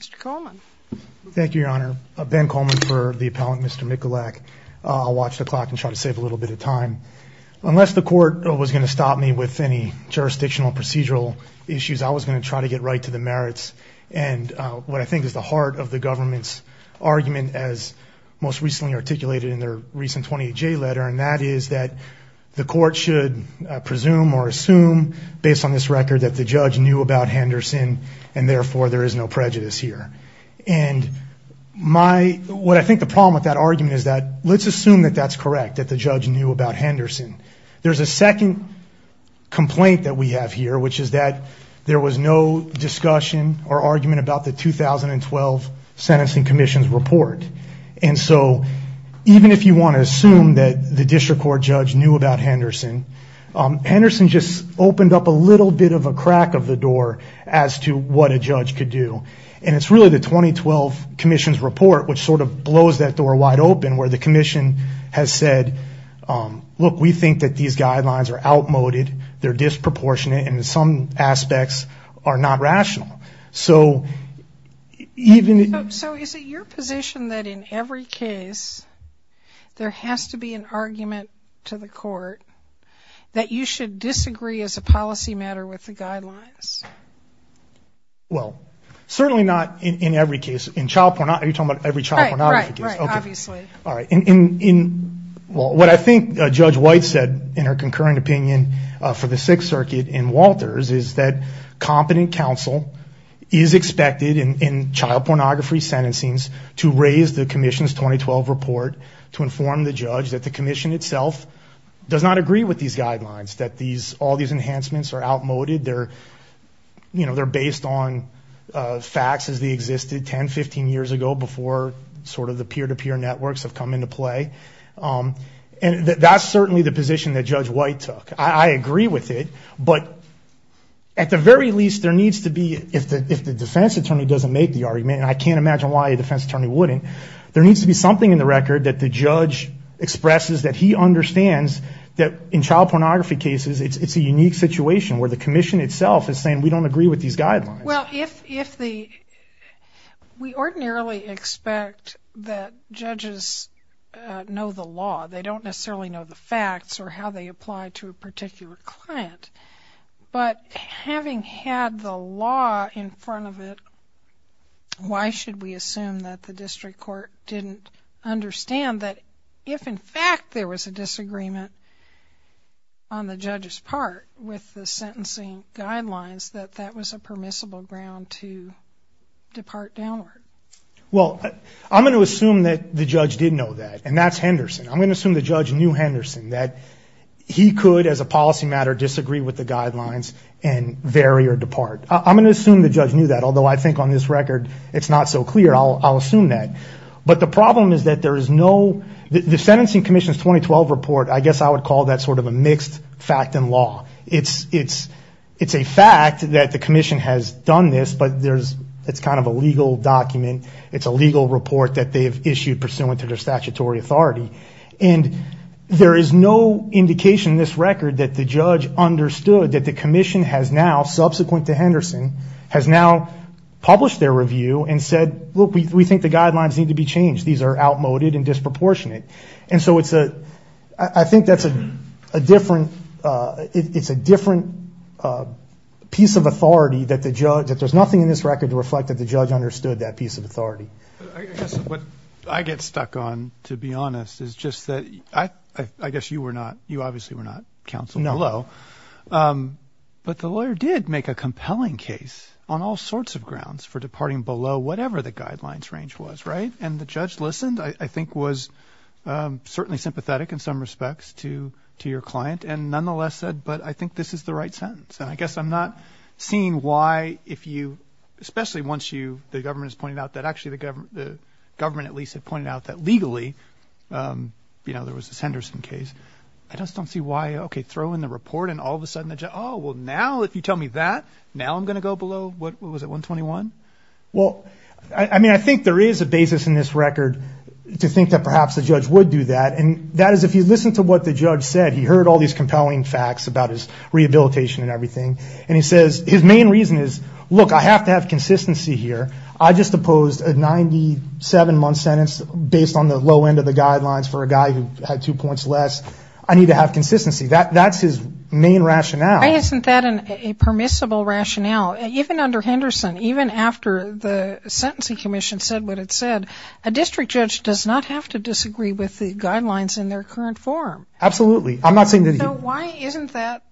Mr. Coleman. Thank you, Your Honor. Ben Coleman for the appellant, Mr. Mikulak. I'll watch the clock and try to save a little bit of time. Unless the court was going to stop me with any jurisdictional procedural issues, I was going to try to get right to the merits. And what I think is the heart of the government's argument, as most recently articulated in their recent 28J letter, and that is that the court should presume or assume, based on this record, that the judge knew about Henderson and therefore there is no prejudice here. And what I think the problem with that argument is that let's assume that that's correct, that the judge knew about Henderson. There's a second complaint that we have here, which is that there was no discussion or argument about the 2012 Sentencing Commission's report. And so even if you want to assume that the district court judge knew about Henderson, Henderson just opened up a little bit of a crack of the door as to what a judge could do. And it's really the 2012 commission's report which sort of blows that door wide open where the commission has said, look, we think that these guidelines are outmoded, they're disproportionate, and in some aspects are not rational. So even... So is it your position that in every case there has to be an argument to the court that you should disagree as a policy matter with the guidelines? Well, certainly not in every case. Are you talking about every child pornography case? Right, right, obviously. All right. Well, what I think Judge White said in her concurring opinion for the Sixth Circuit in Walters is that competent counsel is expected in child pornography sentencings to raise the commission's 2012 report to inform the judge that the commission itself does not agree with these guidelines, that all these enhancements are outmoded, they're based on facts as they existed 10, 15 years ago before sort of the peer-to-peer networks have come into play. And that's certainly the position that Judge White took. I agree with it, but at the very least there needs to be, if the defense attorney doesn't make the argument, and I can't imagine why a defense attorney wouldn't, there needs to be something in the record that the judge expresses, that he understands that in child pornography cases it's a unique situation where the commission itself is saying we don't agree with these guidelines. Well, if the, we ordinarily expect that judges know the law. They don't necessarily know the facts or how they apply to a particular client. But having had the law in front of it, why should we assume that the district court didn't understand that if, in fact, there was a disagreement on the judge's part with the sentencing guidelines that that was a permissible ground to depart downward? Well, I'm going to assume that the judge did know that, and that's Henderson. I'm going to assume the judge knew Henderson, that he could, as a policy matter, disagree with the guidelines and vary or depart. I'm going to assume the judge knew that, although I think on this record it's not so clear. I'll assume that. But the problem is that there is no, the sentencing commission's 2012 report, I guess I would call that sort of a mixed fact and law. It's a fact that the commission has done this, but there's, it's kind of a legal document. It's a legal report that they have issued pursuant to their statutory authority. And there is no indication in this record that the judge understood that the commission has now, subsequent to Henderson, has now published their review and said, look, we think the guidelines need to be changed. These are outmoded and disproportionate. And so it's a, I think that's a different, it's a different piece of authority that the judge, that there's nothing in this record to reflect that the judge understood that piece of authority. I guess what I get stuck on, to be honest, is just that, I guess you were not, you obviously were not counsel below. No. But the lawyer did make a compelling case on all sorts of grounds for departing below whatever the guidelines range was. Right. And the judge listened, I think was certainly sympathetic in some respects to your client and nonetheless said, but I think this is the right sentence. And I guess I'm not seeing why if you, especially once you, the government has pointed out that actually the government, the government at least had pointed out that legally, you know, there was this Henderson case. I just don't see why, okay, throw in the report and all of a sudden the judge, oh, well now if you tell me that, now I'm going to go below, what was it, 121? Well, I mean, I think there is a basis in this record to think that perhaps the judge would do that. And that is if you listen to what the judge said, he heard all these compelling facts about his rehabilitation and everything. And he says, his main reason is, look, I have to have consistency here. I just opposed a 97-month sentence based on the low end of the guidelines for a guy who had two points less. I need to have consistency. That's his main rationale. Why isn't that a permissible rationale? Even under Henderson, even after the Sentencing Commission said what it said, a district judge does not have to disagree with the guidelines in their current form. Absolutely. I'm not saying that he would. So why isn't that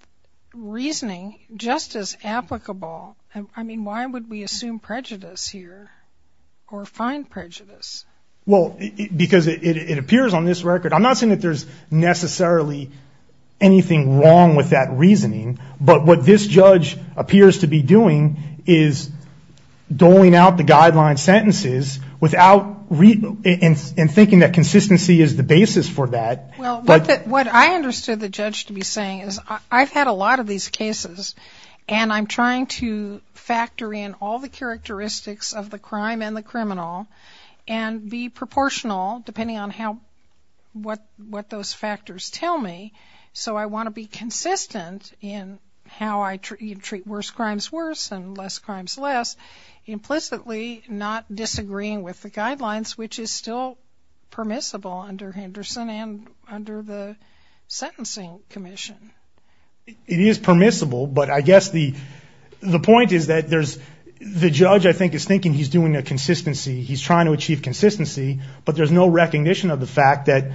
reasoning just as applicable? I mean, why would we assume prejudice here or find prejudice? Well, because it appears on this record. I'm not saying that there's necessarily anything wrong with that reasoning. But what this judge appears to be doing is doling out the guideline sentences and thinking that consistency is the basis for that. Well, what I understood the judge to be saying is I've had a lot of these cases and I'm trying to factor in all the characteristics of the crime and the criminal and be proportional depending on what those factors tell me. So I want to be consistent in how I treat worse crimes worse and less crimes less, implicitly not disagreeing with the guidelines, which is still permissible under Henderson and under the Sentencing Commission. It is permissible, but I guess the point is that there's the judge, I think, is thinking he's doing a consistency. He's trying to achieve consistency, but there's no recognition of the fact that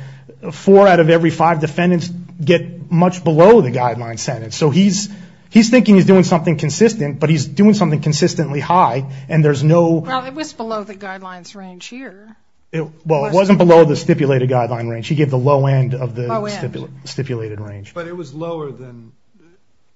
four out of every five defendants get much below the guideline sentence. So he's thinking he's doing something consistent, but he's doing something consistently high and there's no – Well, it was below the guidelines range here. Well, it wasn't below the stipulated guideline range. He gave the low end of the stipulated range. But it was lower than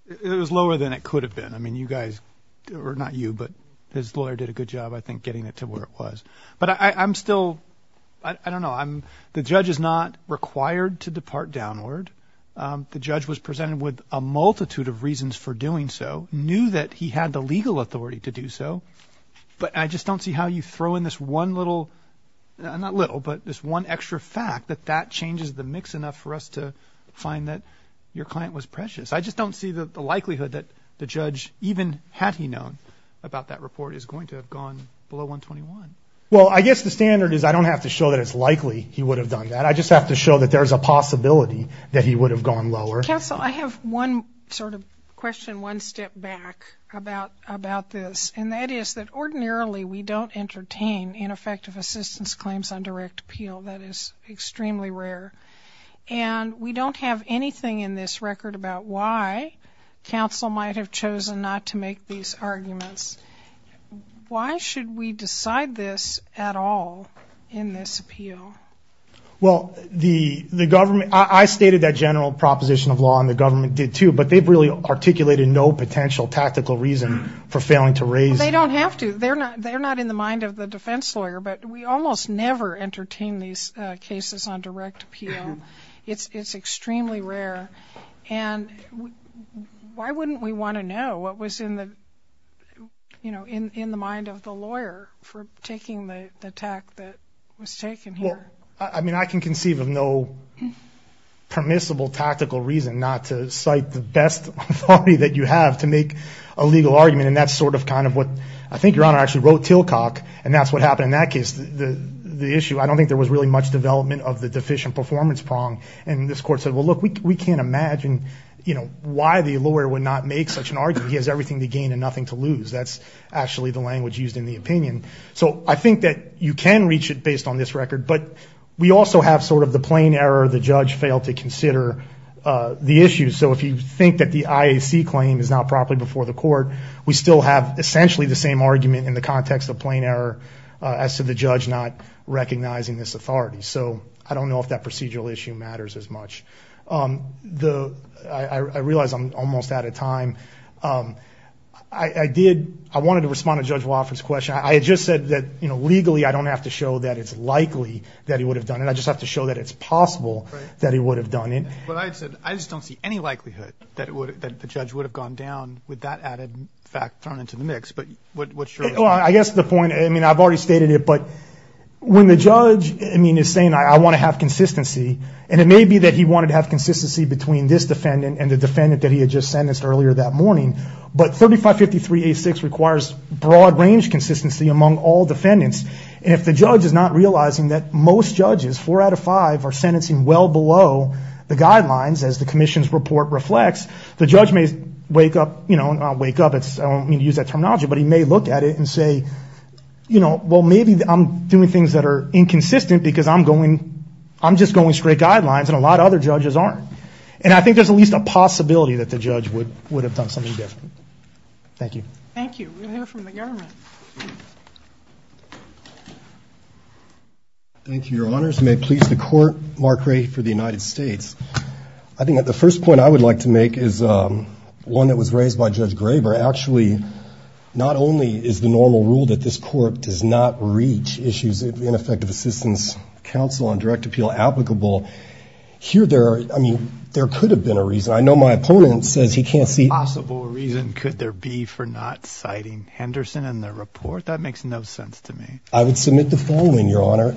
it could have been. I mean, you guys – or not you, but his lawyer did a good job, I think, getting it to where it was. But I'm still – I don't know. The judge is not required to depart downward. The judge was presented with a multitude of reasons for doing so, knew that he had the legal authority to do so, but I just don't see how you throw in this one little – not little, but this one extra fact that that changes the mix enough for us to find that your client was precious. I just don't see the likelihood that the judge, even had he known about that report, is going to have gone below 121. Well, I guess the standard is I don't have to show that it's likely he would have done that. I just have to show that there's a possibility that he would have gone lower. Counsel, I have one sort of question one step back about this, and that is that ordinarily we don't entertain ineffective assistance claims on direct appeal. That is extremely rare. And we don't have anything in this record about why counsel might have chosen not to make these arguments. Why should we decide this at all in this appeal? Well, the government – I stated that general proposition of law, and the government did too, but they've really articulated no potential tactical reason for failing to raise it. Well, they don't have to. They're not in the mind of the defense lawyer, but we almost never entertain these cases on direct appeal. It's extremely rare. And why wouldn't we want to know what was in the mind of the lawyer for taking the attack that was taken here? Well, I mean, I can conceive of no permissible tactical reason not to cite the best authority that you have to make a legal argument, and that's sort of kind of what I think Your Honor actually wrote Tillcock, and that's what happened in that case. The issue, I don't think there was really much development of the deficient performance prong, and this court said, well, look, we can't imagine, you know, why the lawyer would not make such an argument. He has everything to gain and nothing to lose. That's actually the language used in the opinion. So I think that you can reach it based on this record, but we also have sort of the plain error, the judge failed to consider the issue. So if you think that the IAC claim is not properly before the court, we still have essentially the same argument in the context of plain error as to the judge not recognizing this authority. So I don't know if that procedural issue matters as much. I realize I'm almost out of time. I wanted to respond to Judge Wofford's question. I had just said that, you know, legally I don't have to show that it's likely that he would have done it. I just have to show that it's possible that he would have done it. But I just don't see any likelihood that the judge would have gone down with that added fact thrown into the mix. But what's your response? Well, I guess the point, I mean, I've already stated it, but when the judge, I mean, is saying I want to have consistency, and it may be that he wanted to have consistency between this defendant and the defendant that he had just sentenced earlier that morning, but 3553A6 requires broad range consistency among all defendants. And if the judge is not realizing that most judges, four out of five, are sentencing well below the guidelines, as the commission's report reflects, the judge may wake up, you know, wake up, I don't mean to use that terminology, but he may look at it and say, you know, well, maybe I'm doing things that are inconsistent because I'm going, I'm just going straight guidelines and a lot of other judges aren't. And I think there's at least a possibility that the judge would have done something different. Thank you. Thank you. We'll hear from the government. Thank you, Your Honors. May it please the Court, Mark Ray for the United States. I think the first point I would like to make is one that was raised by Judge Graber. Actually, not only is the normal rule that this Court does not reach issues of ineffective assistance counsel on direct appeal applicable, here there are, I mean, there could have been a reason. I know my opponent says he can't see. A possible reason could there be for not citing Henderson in the report? That makes no sense to me. I would submit the following, Your Honor.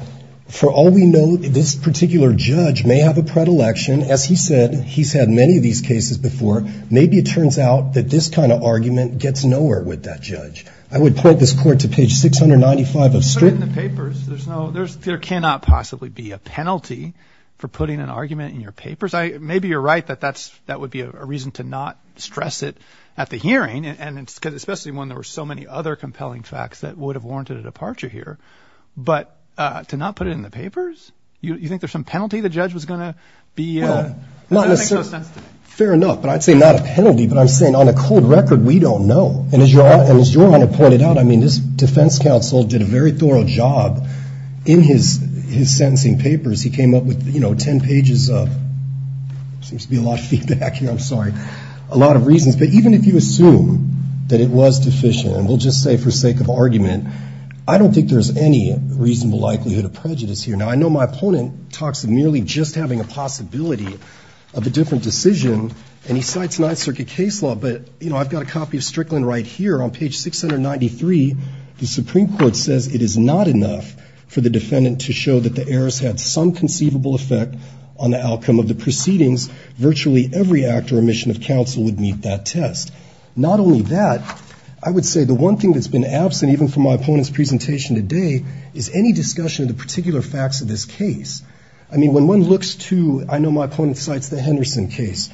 For all we know, this particular judge may have a predilection. As he said, he's had many of these cases before. Maybe it turns out that this kind of argument gets nowhere with that judge. I would point this Court to page 695 of Strickland. But in the papers, there's no, there cannot possibly be a penalty for putting an argument in your papers. Maybe you're right that that would be a reason to not stress it at the hearing, and especially when there were so many other compelling facts that would have warranted a departure here. But to not put it in the papers? You think there's some penalty the judge was going to be? Fair enough. But I'd say not a penalty. But I'm saying on a cold record, we don't know. And as Your Honor pointed out, I mean, this defense counsel did a very thorough job in his sentencing papers. He came up with, you know, 10 pages of, there seems to be a lot of feedback here, I'm sorry, a lot of reasons. But even if you assume that it was deficient, and we'll just say for sake of argument, I don't think there's any reasonable likelihood of prejudice here. Now, I know my opponent talks of merely just having a possibility of a different decision, and he cites Ninth Circuit case law. But, you know, I've got a copy of Strickland right here on page 693. The Supreme Court says it is not enough for the defendant to show that the errors had some conceivable effect on the outcome of the proceedings. Virtually every act or omission of counsel would meet that test. Not only that, I would say the one thing that's been absent, even from my opponent's presentation today, is any discussion of the particular facts of this case. I mean, when one looks to, I know my opponent cites the Henderson case,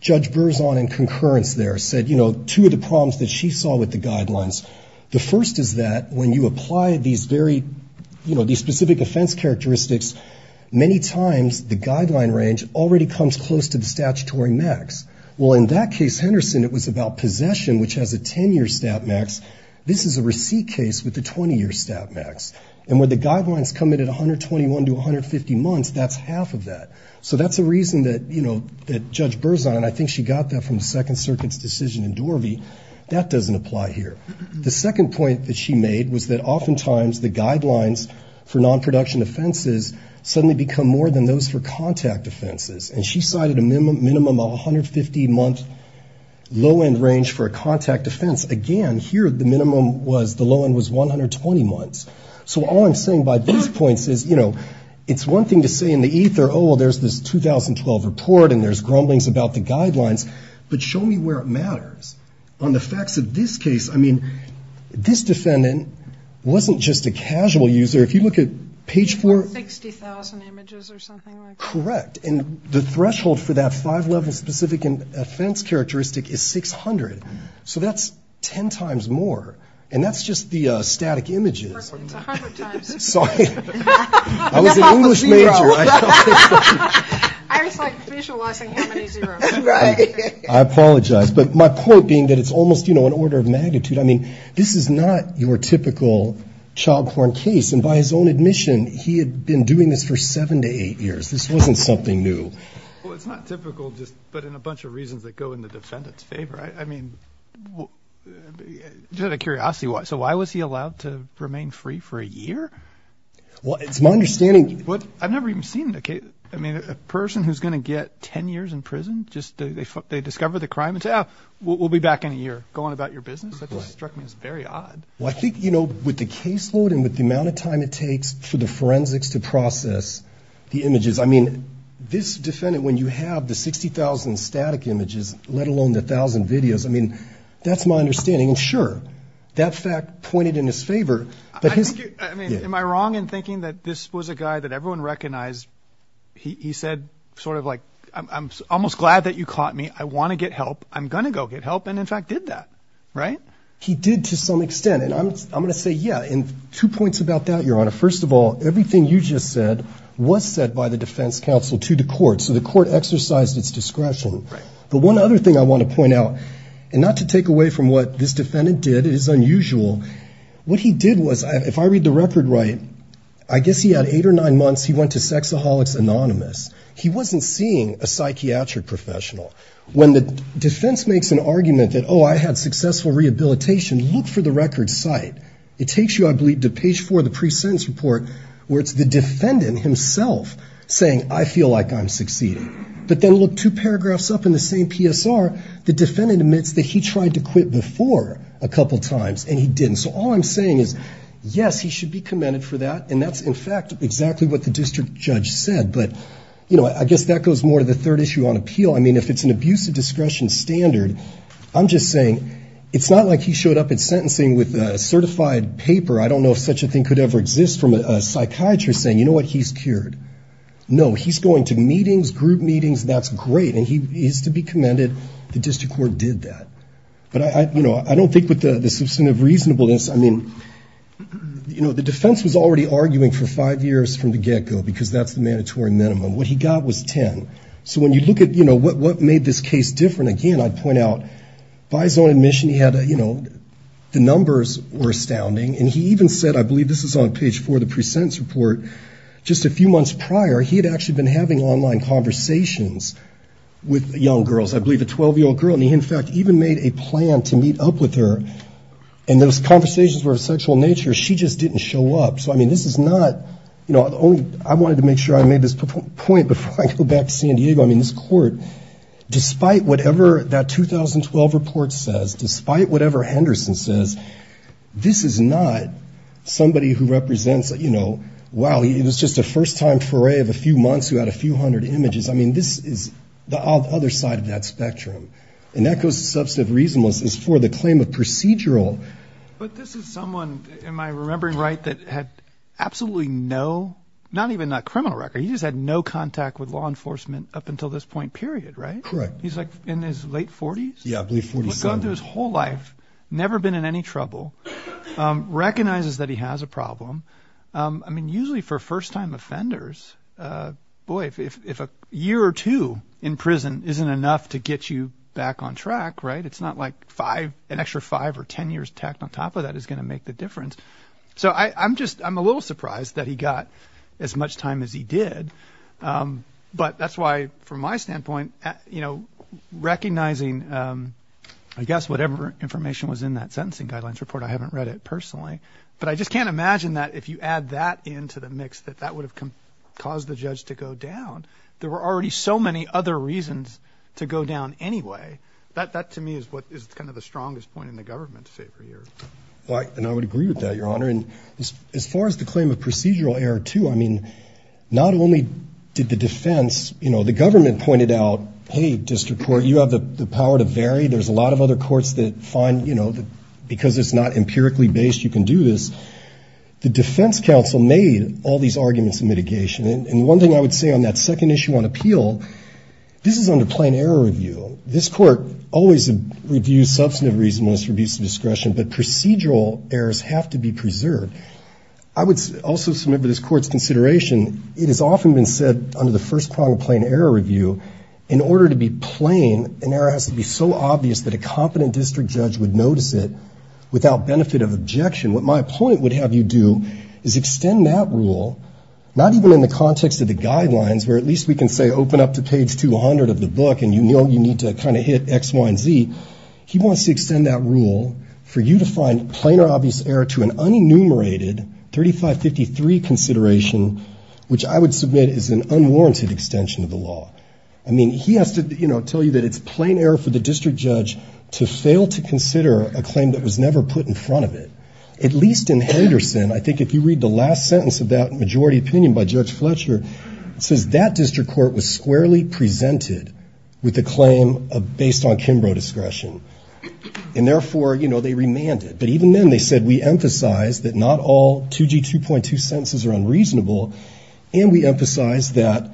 Judge Berzon in concurrence there said, you know, two of the problems that she saw with the guidelines, the first is that when you apply these very, you know, these specific offense characteristics, many times the guideline range already comes close to the statutory max. Well, in that case, Henderson, it was about possession, which has a 10-year stat max. This is a receipt case with a 20-year stat max. And when the guidelines come in at 121 to 150 months, that's half of that. So that's a reason that, you know, that Judge Berzon, and I think she got that from the Second Circuit's decision in Dorvey, that doesn't apply here. The second point that she made was that oftentimes the guidelines for non-production offenses suddenly become more than those for contact offenses. And she cited a minimum of 150-month low-end range for a contact offense. Again, here the minimum was the low-end was 120 months. So all I'm saying by these points is, you know, it's one thing to say in the ether, oh, well, there's this 2012 report and there's grumblings about the guidelines, but show me where it matters. On the facts of this case, I mean, this defendant wasn't just a casual user. If you look at page 4. 60,000 images or something like that. Correct. And the threshold for that five-level specific offense characteristic is 600. So that's ten times more. And that's just the static images. It's 100 times. Sorry. I was an English major. I was, like, visualizing how many zeros. Right. I apologize. But my point being that it's almost, you know, an order of magnitude. I mean, this is not your typical chobhorn case. And by his own admission, he had been doing this for seven to eight years. This wasn't something new. Well, it's not typical, but in a bunch of reasons that go in the defendant's favor. I mean, just out of curiosity, so why was he allowed to remain free for a year? Well, it's my understanding. I've never even seen the case. I mean, a person who's going to get ten years in prison, just they discover the crime and say, oh, we'll be back in a year. Go on about your business. That just struck me as very odd. Well, I think, you know, with the caseload and with the amount of time it takes for the forensics to process the images, I mean, this defendant, when you have the 60,000 static images, let alone the 1,000 videos, I mean, that's my understanding. And, sure, that fact pointed in his favor. I mean, am I wrong in thinking that this was a guy that everyone recognized? He said sort of like, I'm almost glad that you caught me. I want to get help. I'm going to go get help. And, in fact, did that, right? He did to some extent. And two points about that, Your Honor. First of all, everything you just said was said by the defense counsel to the court. So the court exercised its discretion. But one other thing I want to point out, and not to take away from what this defendant did, it is unusual, what he did was, if I read the record right, I guess he had eight or nine months, he went to Sexaholics Anonymous. He wasn't seeing a psychiatric professional. When the defense makes an argument that, oh, I had successful rehabilitation, look for the record's site. It takes you, I believe, to page four of the pre-sentence report, where it's the defendant himself saying, I feel like I'm succeeding. But then look two paragraphs up in the same PSR. The defendant admits that he tried to quit before a couple times, and he didn't. So all I'm saying is, yes, he should be commended for that. And that's, in fact, exactly what the district judge said. But, you know, I guess that goes more to the third issue on appeal. I mean, if it's an abuse of discretion standard, I'm just saying, it's not like he showed up at sentencing with a certified paper. I don't know if such a thing could ever exist from a psychiatrist saying, you know what, he's cured. No, he's going to meetings, group meetings, and that's great, and he is to be commended. The district court did that. But, you know, I don't think with the substantive reasonableness, I mean, you know, the defense was already arguing for five years from the get-go, because that's the mandatory minimum. What he got was 10. So when you look at, you know, what made this case different, again, I'd point out, by his own admission, he had a, you know, the numbers were astounding. And he even said, I believe this is on page four of the pre-sentence report, just a few months prior, he had actually been having online conversations with young girls, I believe a 12-year-old girl. And he, in fact, even made a plan to meet up with her. And those conversations were of sexual nature. She just didn't show up. So, I mean, this is not, you know, I wanted to make sure I made this point before I go back to San Diego. I mean, this court, despite whatever that 2012 report says, despite whatever Henderson says, this is not somebody who represents, you know, wow, it was just a first-time foray of a few months who had a few hundred images. I mean, this is the other side of that spectrum. And that goes to substantive reasonableness is for the claim of procedural. But this is someone, am I remembering right, that had absolutely no, not even a criminal record. He just had no contact with law enforcement up until this point, period, right? Correct. He's like in his late 40s. Yeah, I believe 47. He's gone through his whole life, never been in any trouble, recognizes that he has a problem. I mean, usually for first-time offenders, boy, if a year or two in prison isn't enough to get you back on track, right? It's not like five, an extra five or ten years tacked on top of that is going to make the difference. So I'm just, I'm a little surprised that he got as much time as he did. But that's why, from my standpoint, you know, recognizing, I guess, whatever information was in that sentencing guidelines report, I haven't read it personally. But I just can't imagine that if you add that into the mix, that that would have caused the judge to go down. There were already so many other reasons to go down anyway. That, to me, is what is kind of the strongest point in the government to say for years. And I would agree with that, Your Honor. And as far as the claim of procedural error, too, I mean, not only did the defense, you know, the government pointed out, hey, district court, you have the power to vary. There's a lot of other courts that find, you know, because it's not empirically based, you can do this. The defense counsel made all these arguments in mitigation. And one thing I would say on that second issue on appeal, this is under plain error review. This Court always reviews substantive reasonableness for abuse of discretion. But procedural errors have to be preserved. I would also submit for this Court's consideration, it has often been said under the first prong of plain error review, in order to be plain, an error has to be so obvious that a competent district judge would notice it without benefit of objection. What my point would have you do is extend that rule, not even in the context of the guidelines, where at least we can say open up to page 200 of the book and you know you need to kind of hit X, Y, and Z. He wants to extend that rule for you to find plain or obvious error to an unenumerated 3553 consideration, which I would submit is an unwarranted extension of the law. I mean, he has to, you know, tell you that it's plain error for the district judge to fail to consider a claim that was never put in front of it. At least in Henderson, I think if you read the last sentence of that majority opinion by Judge Fletcher, it says that district court was squarely presented with a claim based on Kimbrough discretion, and therefore, you know, they remanded. But even then they said we emphasize that not all 2G 2.2 sentences are unreasonable, and we emphasize that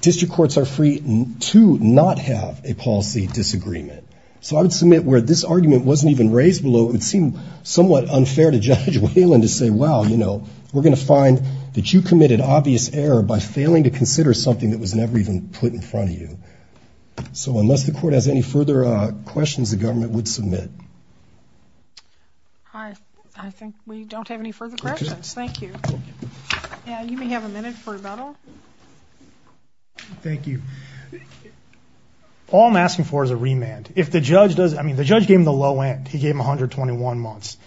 district courts are free to not have a policy disagreement. So I would submit where this argument wasn't even raised below, it would seem somewhat unfair to Judge Whelan to say, well, you know, we're going to find that you committed obvious error by failing to consider something that was never even put in front of you. So unless the court has any further questions, the government would submit. All right. I think we don't have any further questions. Thank you. Thank you. All I'm asking for is a remand. If the judge does, I mean, the judge gave him the low end, he gave him 121 months.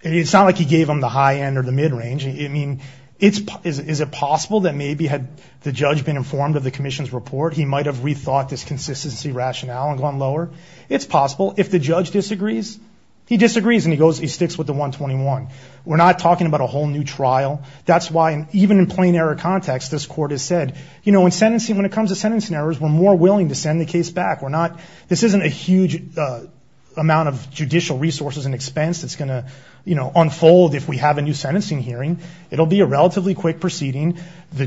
It's not like he gave him the high end or the mid range. I mean, it's is it possible that maybe had the judge been informed of the commission's report, he might have rethought this consistency rationale and gone lower. It's possible if the judge disagrees, he disagrees and he goes, he sticks with the 121. We're not talking about a whole new trial. That's why even in plain error context, this court has said, you know, in sentencing, when it comes to sentencing errors, we're more willing to send the case back. We're not this isn't a huge amount of judicial resources and expense that's going to unfold. If we have a new sentencing hearing, it'll be a relatively quick proceeding. The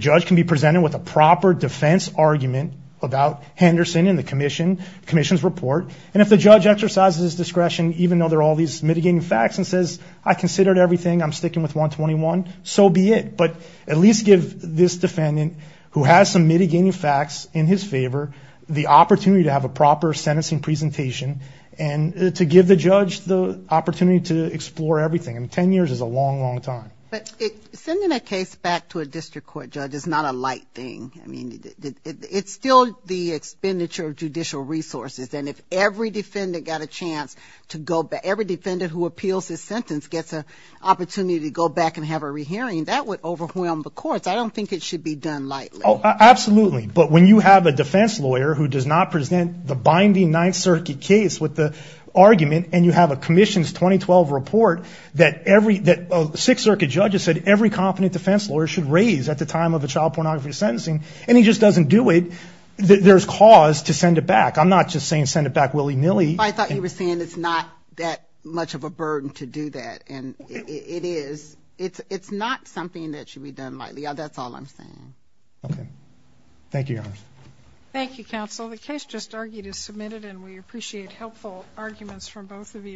judge can be presented with a proper defense argument about Henderson and the commission commission's report. And if the judge exercises discretion, even though there are all these mitigating facts and says, I considered everything, I'm sticking with 121, so be it. But at least give this defendant who has some mitigating facts in his favor, the opportunity to have a proper sentencing presentation and to give the judge the opportunity to explore everything. I mean, 10 years is a long, long time. But sending a case back to a district court judge is not a light thing. I mean, it's still the expenditure of judicial resources. And if every defendant got a chance to go back, every defendant who appeals his sentence gets an opportunity to go back and have a rehearing, that would overwhelm the courts. I don't think it should be done lightly. Absolutely. But when you have a defense lawyer who does not present the binding Ninth Circuit case with the argument and you have a commission's 2012 report that every, that Sixth Circuit judges, every competent defense lawyer should raise at the time of a child pornography sentencing, and he just doesn't do it, there's cause to send it back. I'm not just saying send it back willy-nilly. I thought you were saying it's not that much of a burden to do that. And it is. It's not something that should be done lightly. That's all I'm saying. Okay. Thank you, Your Honor.